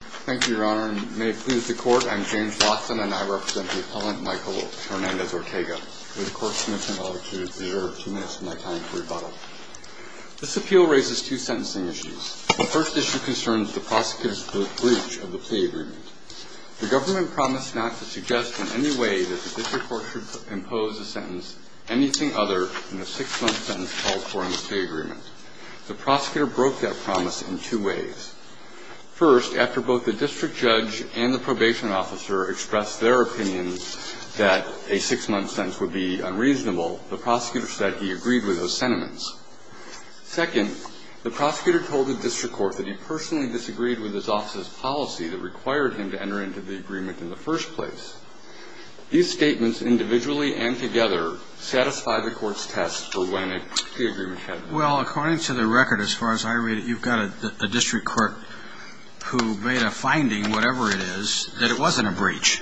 Thank you, Your Honor, and may it please the Court, I am James Lawson, and I represent the appellant Micael Hernandez-Ortega, with a court-submission of LRQ that is a matter of two minutes of my time for rebuttal. This appeal raises two sentencing issues. The first issue concerns the prosecutor's breach of the plea agreement. The government promised not to suggest in any way that the district court should impose a sentence, anything other than a six-month sentence called for in the plea agreement. The prosecutor broke that promise in two ways. First, after both the district judge and the probation officer expressed their opinions that a six-month sentence would be unreasonable, the prosecutor said he agreed with those sentiments. Second, the prosecutor told the district court that he personally disagreed with his office's policy that required him to enter into the agreement in the first place. These statements individually and together satisfy the Court's test for when a plea agreement had to be made. Well, according to the record, as far as I read it, you've got a district court who made a finding, whatever it is, that it wasn't a breach,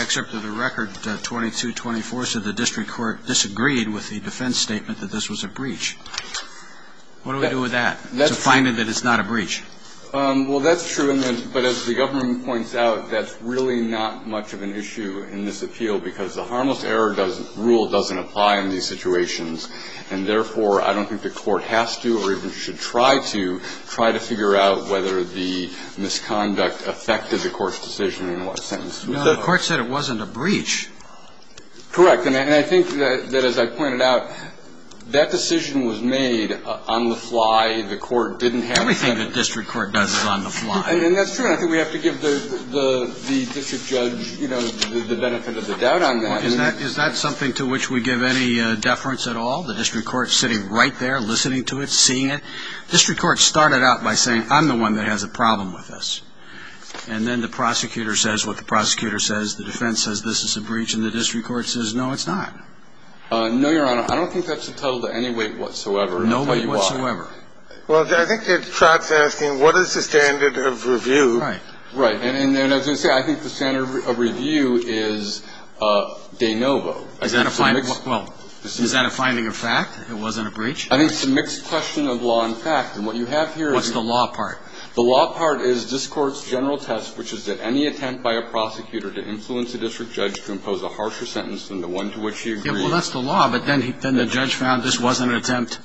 except that the record 2224 said the district court disagreed with the defense statement that this was a breach. What do we do with that? It's a finding that it's not a breach. Well, that's true. But as the government points out, that's really not much of an issue in this appeal, because the harmless error rule doesn't apply in these situations. And therefore, I don't think the Court has to or even should try to try to figure out whether the misconduct affected the Court's decision in what sentence. The Court said it wasn't a breach. Correct. And I think that, as I pointed out, that decision was made on the fly. The Court didn't have a sentence. Everything the district court does is on the fly. And that's true. And I think we have to give the district judge the benefit of the doubt on that. Is that something to which we give any deference at all, the district court sitting right there, listening to it, seeing it? The district court started out by saying, I'm the one that has a problem with this. And then the prosecutor says what the prosecutor says, the defense says this is a breach, and the district court says, no, it's not. No, Your Honor. I don't think that's entitled to any weight whatsoever. No weight whatsoever. Well, I think it trots asking, what is the standard of review? Right. Right. And as I say, I think the standard of review is de novo. Is that a finding of fact? It wasn't a breach? I think it's a mixed question of law and fact. And what you have here is the law part. The law part is this Court's general test, which is that any attempt by a prosecutor to influence a district judge to impose a harsher sentence than the one to which he agreed. Well, that's the law. But then the judge found this wasn't an attempt,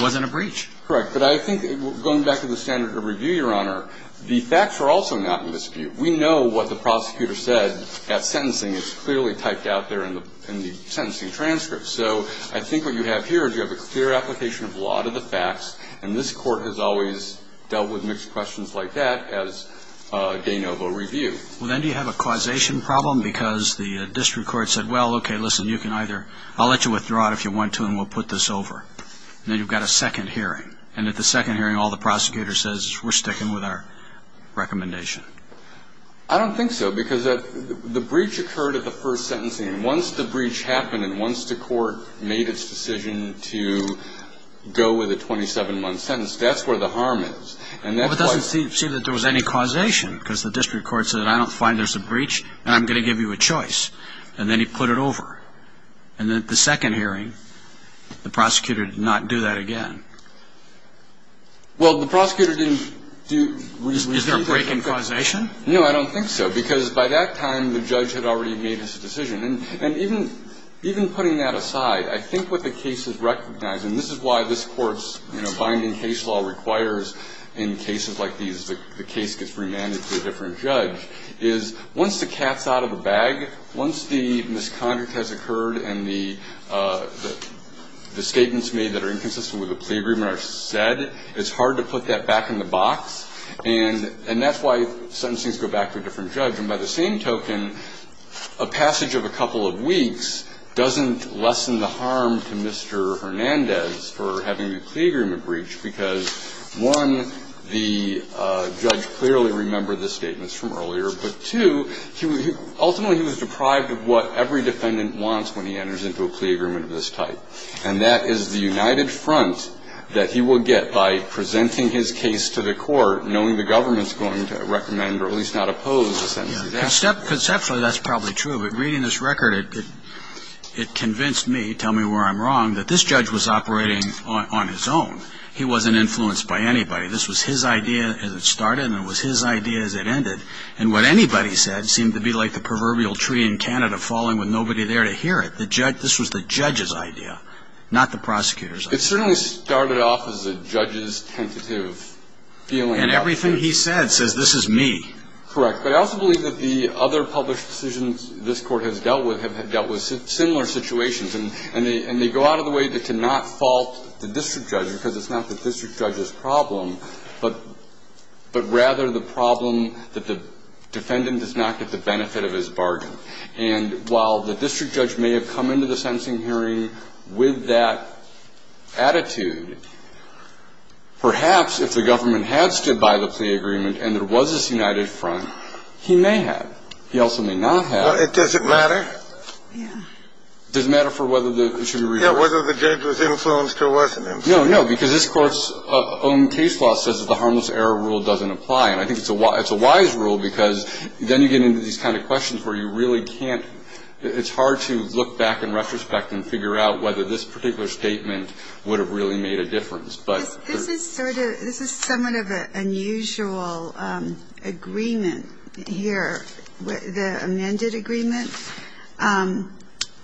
wasn't a breach. Correct. But I think going back to the standard of review, Your Honor, the facts are also not in dispute. We know what the prosecutor said at sentencing is clearly typed out there in the sentencing transcript. So I think what you have here is you have a clear application of law to the facts, and this Court has always dealt with mixed questions like that as de novo review. Well, then do you have a causation problem? Because the district court said, well, okay, listen, you can either ‑‑ I'll let you withdraw it if you want to, and we'll put this over. And then you've got a second hearing. And at the second hearing, all the prosecutor says is we're sticking with our recommendation. I don't think so, because the breach occurred at the first sentencing. And once the breach happened and once the court made its decision to go with a 27-month sentence, that's where the harm is. Well, but it doesn't seem that there was any causation, because the district court said, I don't find there's a breach, and I'm going to give you a choice. And then he put it over. And then at the second hearing, the prosecutor did not do that again. Well, the prosecutor didn't do ‑‑ Is there a break in causation? No, I don't think so, because by that time, the judge had already made his decision. And even putting that aside, I think what the case is recognizing, and this is why this Court's, you know, binding case law requires in cases like these the case gets remanded to a different judge, is once the cat's out of the bag, once the misconduct has occurred and the statements made that are inconsistent with the plea agreement are said, it's hard to put that back in the box. And that's why sentencings go back to a different judge. And by the same token, a passage of a couple of weeks doesn't lessen the harm to Mr. Hernandez for having a plea agreement breach, because, one, the judge clearly remembered the statements from earlier, but, two, ultimately he was deprived of what every defendant wants when he enters into a plea agreement of this type, and that is the united front that he will get by presenting his case to the Court, knowing the government's going to recommend or at least not oppose a sentencing. Conceptually, that's probably true, but reading this record, it convinced me, tell me where I'm wrong, that this judge was operating on his own. He wasn't influenced by anybody. This was his idea as it started and it was his idea as it ended. And what anybody said seemed to be like the proverbial tree in Canada falling with nobody there to hear it. This was the judge's idea, not the prosecutor's idea. It certainly started off as a judge's tentative feeling. And everything he said says, this is me. Correct. But I also believe that the other published decisions this Court has dealt with have not been influenced by the defendant. And they go out of the way to not fault the district judge, because it's not the district judge's problem, but rather the problem that the defendant does not get the benefit of his bargain. And while the district judge may have come into the sentencing hearing with that attitude, perhaps if the government had stood by the plea agreement and there was this united front, he may have. He also may not have. It doesn't matter. Yeah. It doesn't matter for whether the judge was influenced or wasn't influenced. No, no, because this Court's own case law says that the harmless error rule doesn't apply. And I think it's a wise rule, because then you get into these kind of questions where you really can't – it's hard to look back in retrospect and figure out whether this particular statement would have really made a difference. This is sort of – this is somewhat of an unusual agreement here, the amended agreement.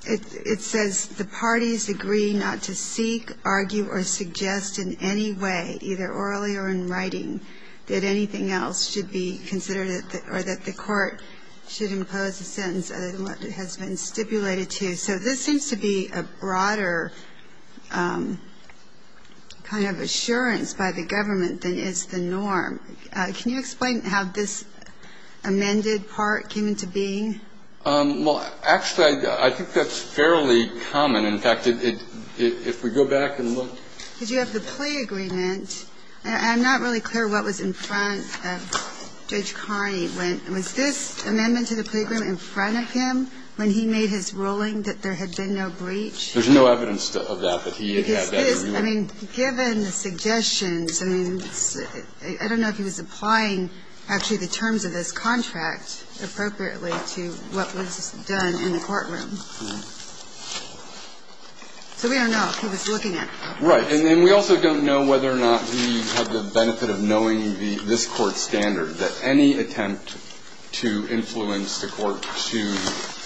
It says the parties agree not to seek, argue, or suggest in any way, either orally or in writing, that anything else should be considered or that the Court should impose a sentence other than what has been stipulated to. So this seems to be a broader kind of assurance by the government than is the norm. Can you explain how this amended part came into being? Well, actually, I think that's fairly common. In fact, if we go back and look – Did you have the plea agreement? I'm not really clear what was in front of Judge Carney. Was this amendment to the plea agreement in front of him when he made his ruling that there had been no breach? There's no evidence of that, that he had that agreement. Because this – I mean, given the suggestions, I mean, I don't know if he was applying actually the terms of this contract appropriately to what was done in the courtroom. So we don't know if he was looking at it. Right. And then we also don't know whether or not he had the benefit of knowing the – this amendment to influence the Court to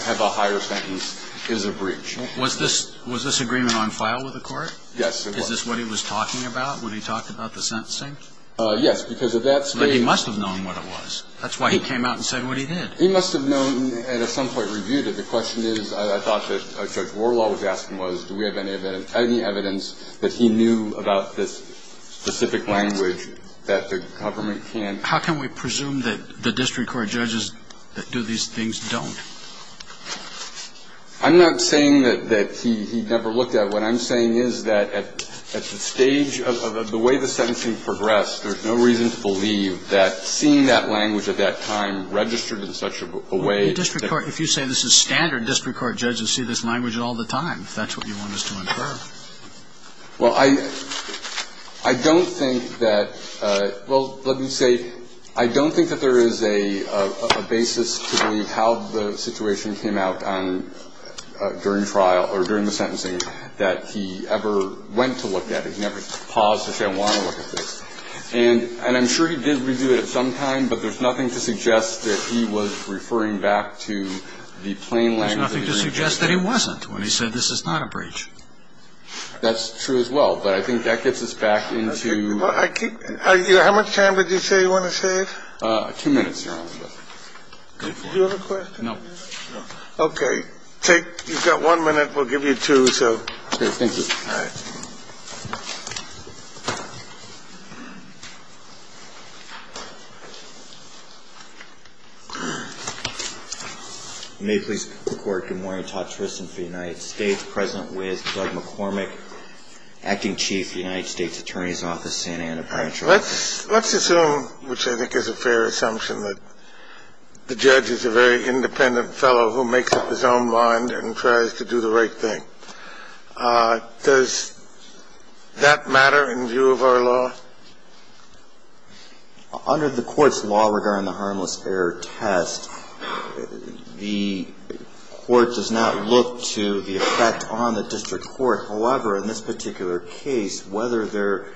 have a higher sentence is a breach. Was this – was this agreement on file with the Court? Yes, it was. Is this what he was talking about when he talked about the sentencing? Yes, because at that stage – But he must have known what it was. That's why he came out and said what he did. He must have known and at some point reviewed it. The question is, I thought that Judge Warlaw was asking was, do we have any evidence that he knew about this specific language that the government can't – How can we presume that the district court judges that do these things don't? I'm not saying that he never looked at it. What I'm saying is that at the stage of the way the sentencing progressed, there's no reason to believe that seeing that language at that time registered in such a way that – Well, the district court – if you say this is standard, district court judges see this language all the time, if that's what you want us to infer. Well, I don't think that – well, let me say, I don't think that there is a basis to believe how the situation came out during trial or during the sentencing that he ever went to look at it. He never paused to say, I want to look at this. And I'm sure he did review it at some time, but there's nothing to suggest that he was referring back to the plain language of the district court. There's nothing to suggest that he wasn't when he said this is not a breach. That's true as well, but I think that gets us back into – I keep – how much time did you say you want to save? Two minutes, Your Honor. Do you have a question? No. Okay. Take – you've got one minute. Thank you. You may please report. Good morning. Todd Tristan for the United States, present with Doug McCormick, Acting Chief, United States Attorney's Office, San Antonio Provincial Court. Let's assume, which I think is a fair assumption, that the judge is a very independent fellow who makes up his own mind and tries to do the right thing. Does that matter in view of our law? Under the Court's law regarding the harmless error test, the Court does not look to the effect on the district court. However, in this particular case, whether there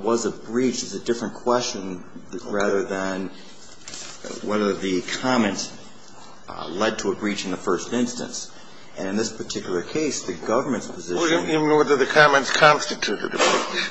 was a breach is a different question rather than whether the comment led to a breach in the first instance. And in this particular case, the government's position... You mean whether the comments constituted a breach?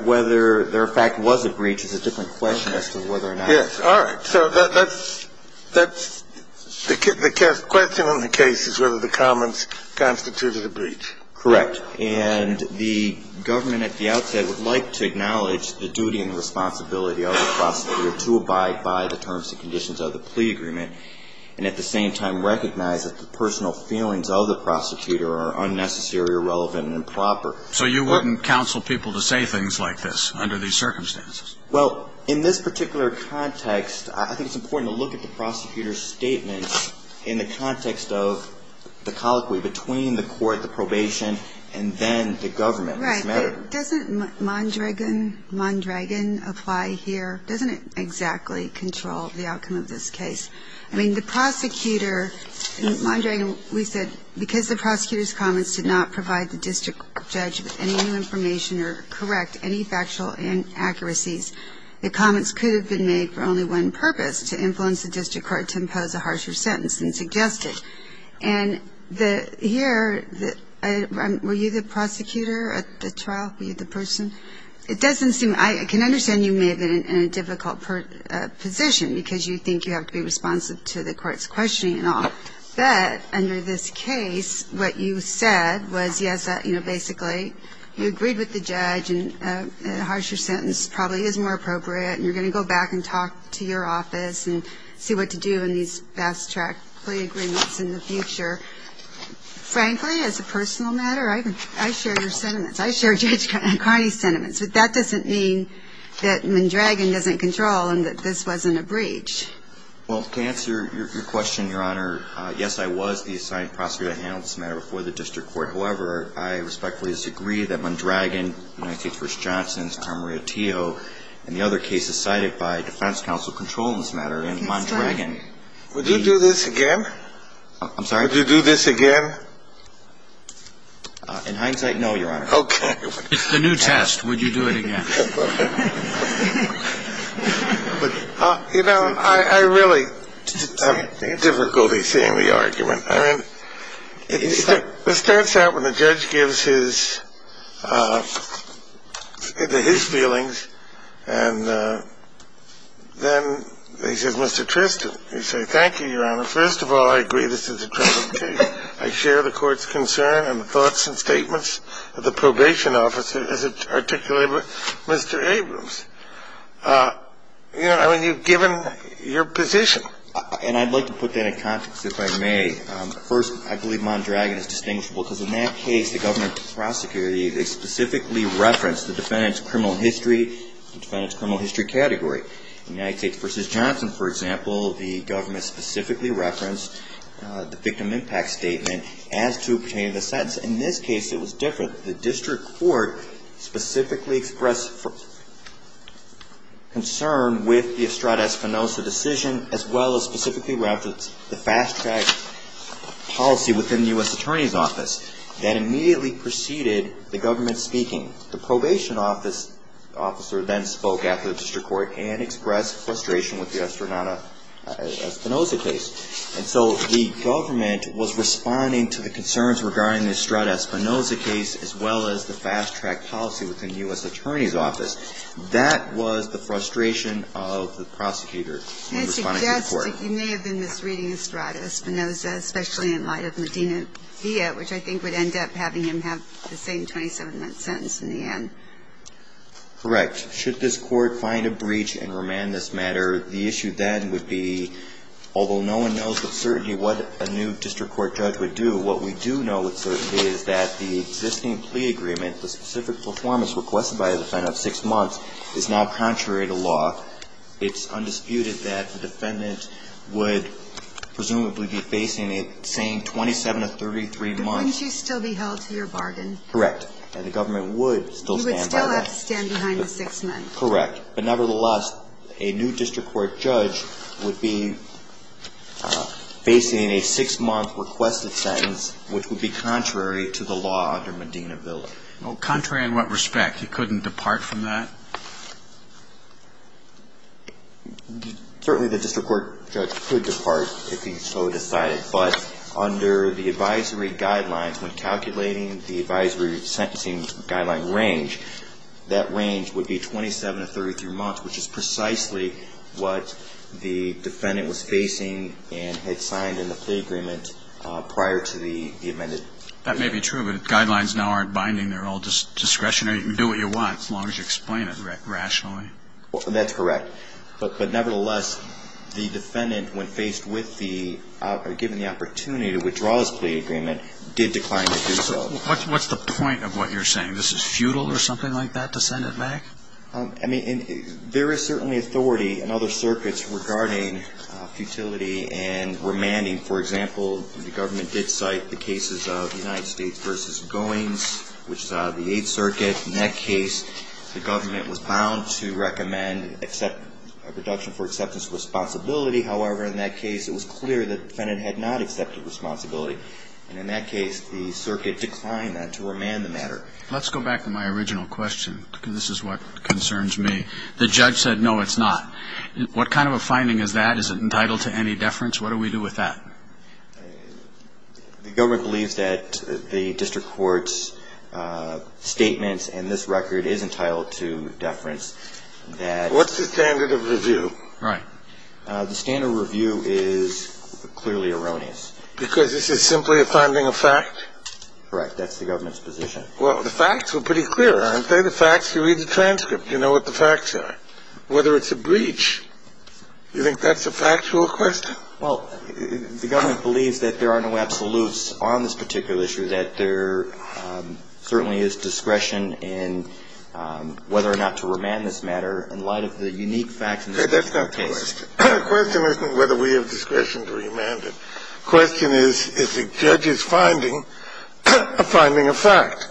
Whether there, in fact, was a breach is a different question as to whether or not... Yes. All right. So that's the question in the case is whether the comments constituted a breach. Correct. And the government at the outset would like to acknowledge the duty and responsibility of the prosecutor to abide by the terms and conditions of the plea agreement, and at the same time recognize that the personal feelings of the prosecutor are unnecessary, irrelevant, and improper. So you wouldn't counsel people to say things like this under these circumstances? Well, in this particular context, I think it's important to look at the prosecutor's statements in the context of the colloquy between the court, the probation, and then the government. Right. Doesn't Mondragon apply here? Doesn't it exactly control the outcome of this case? I mean, the prosecutor, Mondragon, we said because the prosecutor's comments did not provide the district judge with any new information or correct any factual inaccuracies, the comments could have been made for only one purpose, to influence the district court to impose a harsher sentence than suggested. And here, were you the prosecutor at the trial? Were you the person? It doesn't seem... I can understand you may have been in a difficult position because you think you have to be responsive to the court's questioning and all. But under this case, what you said was yes, basically, you agreed with the judge and a harsher sentence probably is more appropriate, and you're going to go back and talk to your office and see what to do in these fast-track plea agreements in the future. Frankly, as a personal matter, I share your sentiments. I share Judge Carney's sentiments. But that doesn't mean that Mondragon doesn't control and that this wasn't a breach. Well, to answer your question, Your Honor, yes, I was the assigned prosecutor to handle this matter before the district court. However, I respectfully disagree that Mondragon, United States Versus Johnson, Tamria Teo, and the other cases cited by defense counsel control this matter. And Mondragon... Would you do this again? I'm sorry? Would you do this again? In hindsight, no, Your Honor. Okay. It's the new test. Would you do it again? You know, I really have difficulty seeing the argument. I mean, it starts out when the judge gives his feelings, and then he says, Mr. Tristan. You say, thank you, Your Honor. First of all, I agree this is a troubling case. I share the court's concern and thoughts and statements of the probation officer, as articulated by Mr. Abrams. You know, I mean, you've given your position. And I'd like to put that in context, if I may. First, I believe Mondragon is distinguishable because in that case, the government prosecutor specifically referenced the defendant's criminal history, the defendant's criminal history category. United States versus Johnson, for example, the government specifically referenced the victim impact statement as to pertaining to the sentence. In this case, it was different. The district court specifically expressed concern with the Estrada Espinosa decision, as well as specifically referenced the fast-track policy within the U.S. Attorney's Office that immediately preceded the government speaking. The probation officer then spoke after the district court and expressed frustration with the Estrada Espinosa case. And so the government was responding to the concerns regarding the Estrada Espinosa case, as well as the fast-track policy within the U.S. Attorney's Office. That was the frustration of the prosecutor when responding to the court. Can I suggest that you may have been misreading Estrada Espinosa, especially in light of Medina Villa, which I think would end up having him have the same 27-month sentence in the end. Correct. Should this court find a breach and remand this matter, the issue then would be, although no one knows with certainty what a new district court judge would do, what we do know with certainty is that the existing plea agreement, the specific performance requested by the defendant of six months, is now contrary to law. It's undisputed that the defendant would presumably be facing a same 27 to 33 months. But wouldn't you still be held to your bargain? Correct. And the government would still stand by that. Correct. But nevertheless, a new district court judge would be facing a six-month requested sentence, which would be contrary to the law under Medina Villa. Well, contrary in what respect? He couldn't depart from that? Certainly the district court judge could depart if he so decided. But under the advisory guidelines, when calculating the advisory sentencing guideline range, that range would be 27 to 33 months, which is precisely what the defendant was facing and had signed in the plea agreement prior to the amended. That may be true, but the guidelines now aren't binding. They're all discretionary. You can do what you want as long as you explain it rationally. That's correct. But nevertheless, the defendant, when faced with the ó given the opportunity to withdraw his plea agreement, did decline to do so. What's the point of what you're saying? This is futile or something like that to send it back? I mean, there is certainly authority in other circuits regarding futility and remanding. For example, the government did cite the cases of United States v. Goins, which is out of the Eighth Circuit. In that case, the government was bound to recommend a reduction for acceptance of responsibility. However, in that case, it was clear that the defendant had not accepted responsibility. And in that case, the circuit declined that to remand the matter. Let's go back to my original question, because this is what concerns me. The judge said, no, it's not. What kind of a finding is that? Is it entitled to any deference? What do we do with that? The government believes that the district court's statements and this record is entitled to deference. What's the standard of review? Right. The standard of review is clearly erroneous. Because this is simply a finding of fact? Correct. That's the government's position. Well, the facts were pretty clear, aren't they? The facts, you read the transcript. You know what the facts are. Whether it's a breach, you think that's a factual question? Well, the government believes that there are no absolutes on this particular issue, that there certainly is discretion in whether or not to remand this matter in light of the unique facts in this particular case. That's not the question. The question isn't whether we have discretion to remand it. The question is, is the judge's finding a finding of fact?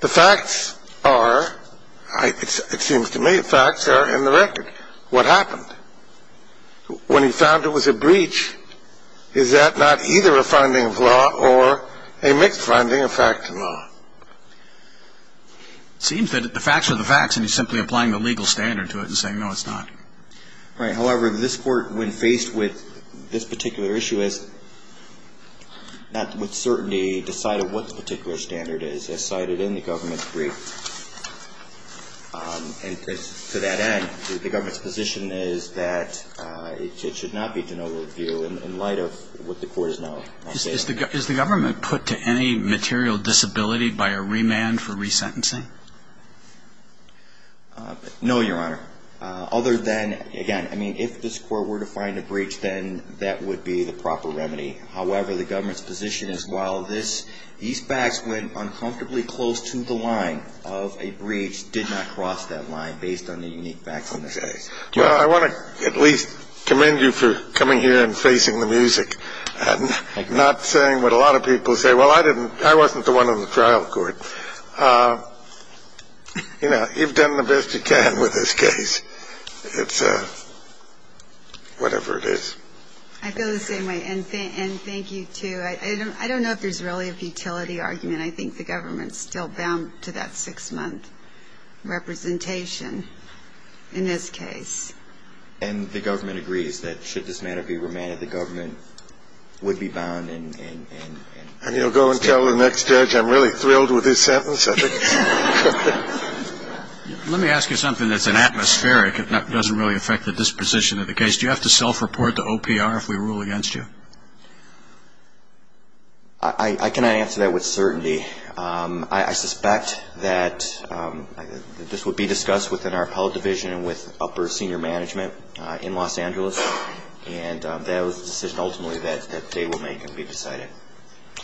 The facts are, it seems to me, the facts are in the record. What happened? When he found it was a breach, is that not either a finding of law or a mixed finding of fact and law? It seems that the facts are the facts, and he's simply applying the legal standard to it and saying, no, it's not. Right. However, this Court, when faced with this particular issue, has not with certainty decided what the particular standard is, as cited in the government's brief. And to that end, the government's position is that it should not be to no review in light of what the Court has now stated. Is the government put to any material disability by a remand for resentencing? No, Your Honor. Other than, again, I mean, if this Court were to find a breach, then that would be the proper remedy. However, the government's position is while these facts went uncomfortably close to the line of a breach, did not cross that line based on the unique facts in this case. Well, I want to at least commend you for coming here and facing the music and not saying what a lot of people say. Well, I didn't. I wasn't the one on the trial court. You know, you've done the best you can with this case. It's whatever it is. I feel the same way. And thank you, too. I don't know if there's really a futility argument. I think the government's still bound to that six-month representation in this case. And the government agrees that should this matter be remanded, the government would be bound and... And you'll go and tell the next judge I'm really thrilled with his sentence? Let me ask you something that's an atmospheric. It doesn't really affect the disposition of the case. Do you have to self-report to OPR if we rule against you? I cannot answer that with certainty. I suspect that this would be discussed within our appellate division and with upper senior management in Los Angeles. And that was the decision ultimately that they would make and be decided.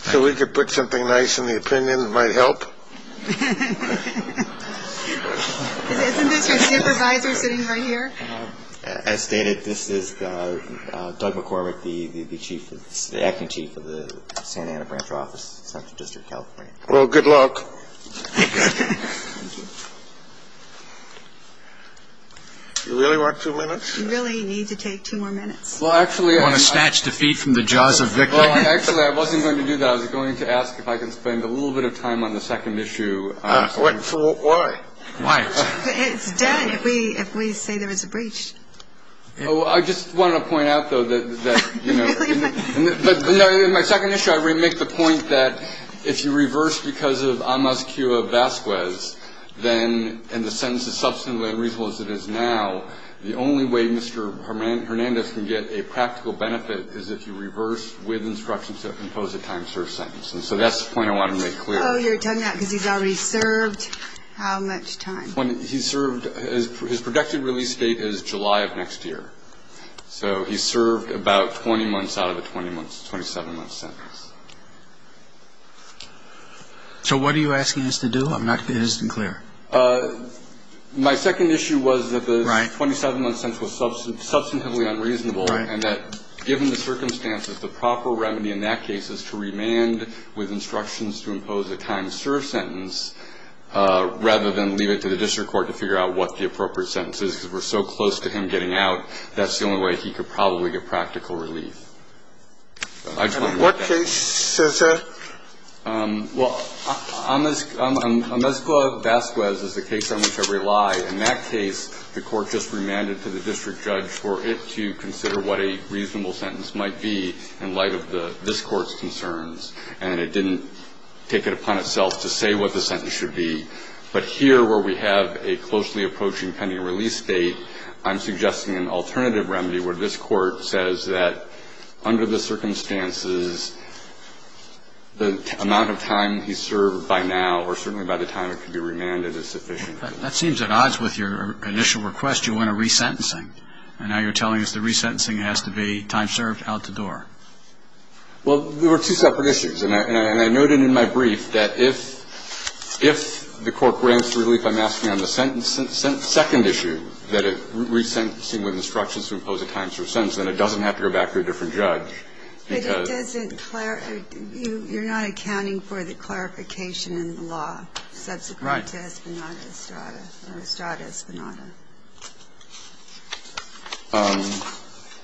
So we could put something nice in the opinion that might help? Isn't this your supervisor sitting right here? As stated, this is Doug McCormick, the acting chief of the Santa Ana branch office, Central District of California. Well, good luck. You really want two minutes? You really need to take two more minutes. You want to snatch defeat from the jaws of victory? Actually, I wasn't going to do that. I was going to ask if I could spend a little bit of time on the second issue. Why? It's done if we say there is a breach. I just want to point out, though, that, you know, in my second issue, I make the point that if you reverse because of amus cua vasquez, and the sentence is substantively unreasonable as it is now, the only way Mr. Hernandez can get a practical benefit is if you reverse with instructions to impose a time-served sentence. And so that's the point I want to make clear. Oh, you're telling that because he's already served how much time? He's served his predicted release date is July of next year. So he's served about 20 months out of a 20-month, 27-month sentence. So what are you asking us to do? I'm not going to be innocent and clear. My second issue was that the 27-month sentence was substantively unreasonable and that given the circumstances, the proper remedy in that case is to remand with instructions to impose a time-served sentence rather than leave it to the district court to figure out what the appropriate sentence is because we're so close to him getting out. That's the only way he could probably get practical relief. And in what case is it? Well, Amezcua-Vasquez is the case on which I rely. In that case, the court just remanded to the district judge for it to consider what a reasonable sentence might be in light of this court's concerns, and it didn't take it upon itself to say what the sentence should be. But here where we have a closely approaching pending release date, I'm suggesting an alternative remedy where this court says that under the circumstances, the amount of time he's served by now or certainly by the time it can be remanded is sufficient. That seems at odds with your initial request. You want a resentencing. And now you're telling us the resentencing has to be time-served, out the door. Well, there were two separate issues, and I noted in my brief that if the court grants relief, I'm asking on the second issue that a resentencing with instructions to impose a time-served sentence, then it doesn't have to go back to a different judge. But it doesn't clarify. You're not accounting for the clarification in the law. Right. Subsequent to Espinada-Estrada or Estrada-Espinada.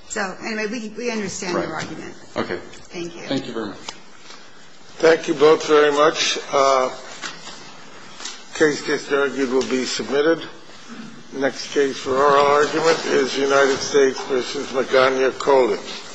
So, anyway, we understand your argument. Right. Thank you. Thank you very much. Thank you both very much. The case just argued will be submitted. The next case for oral argument is United States v. Magana-Colins.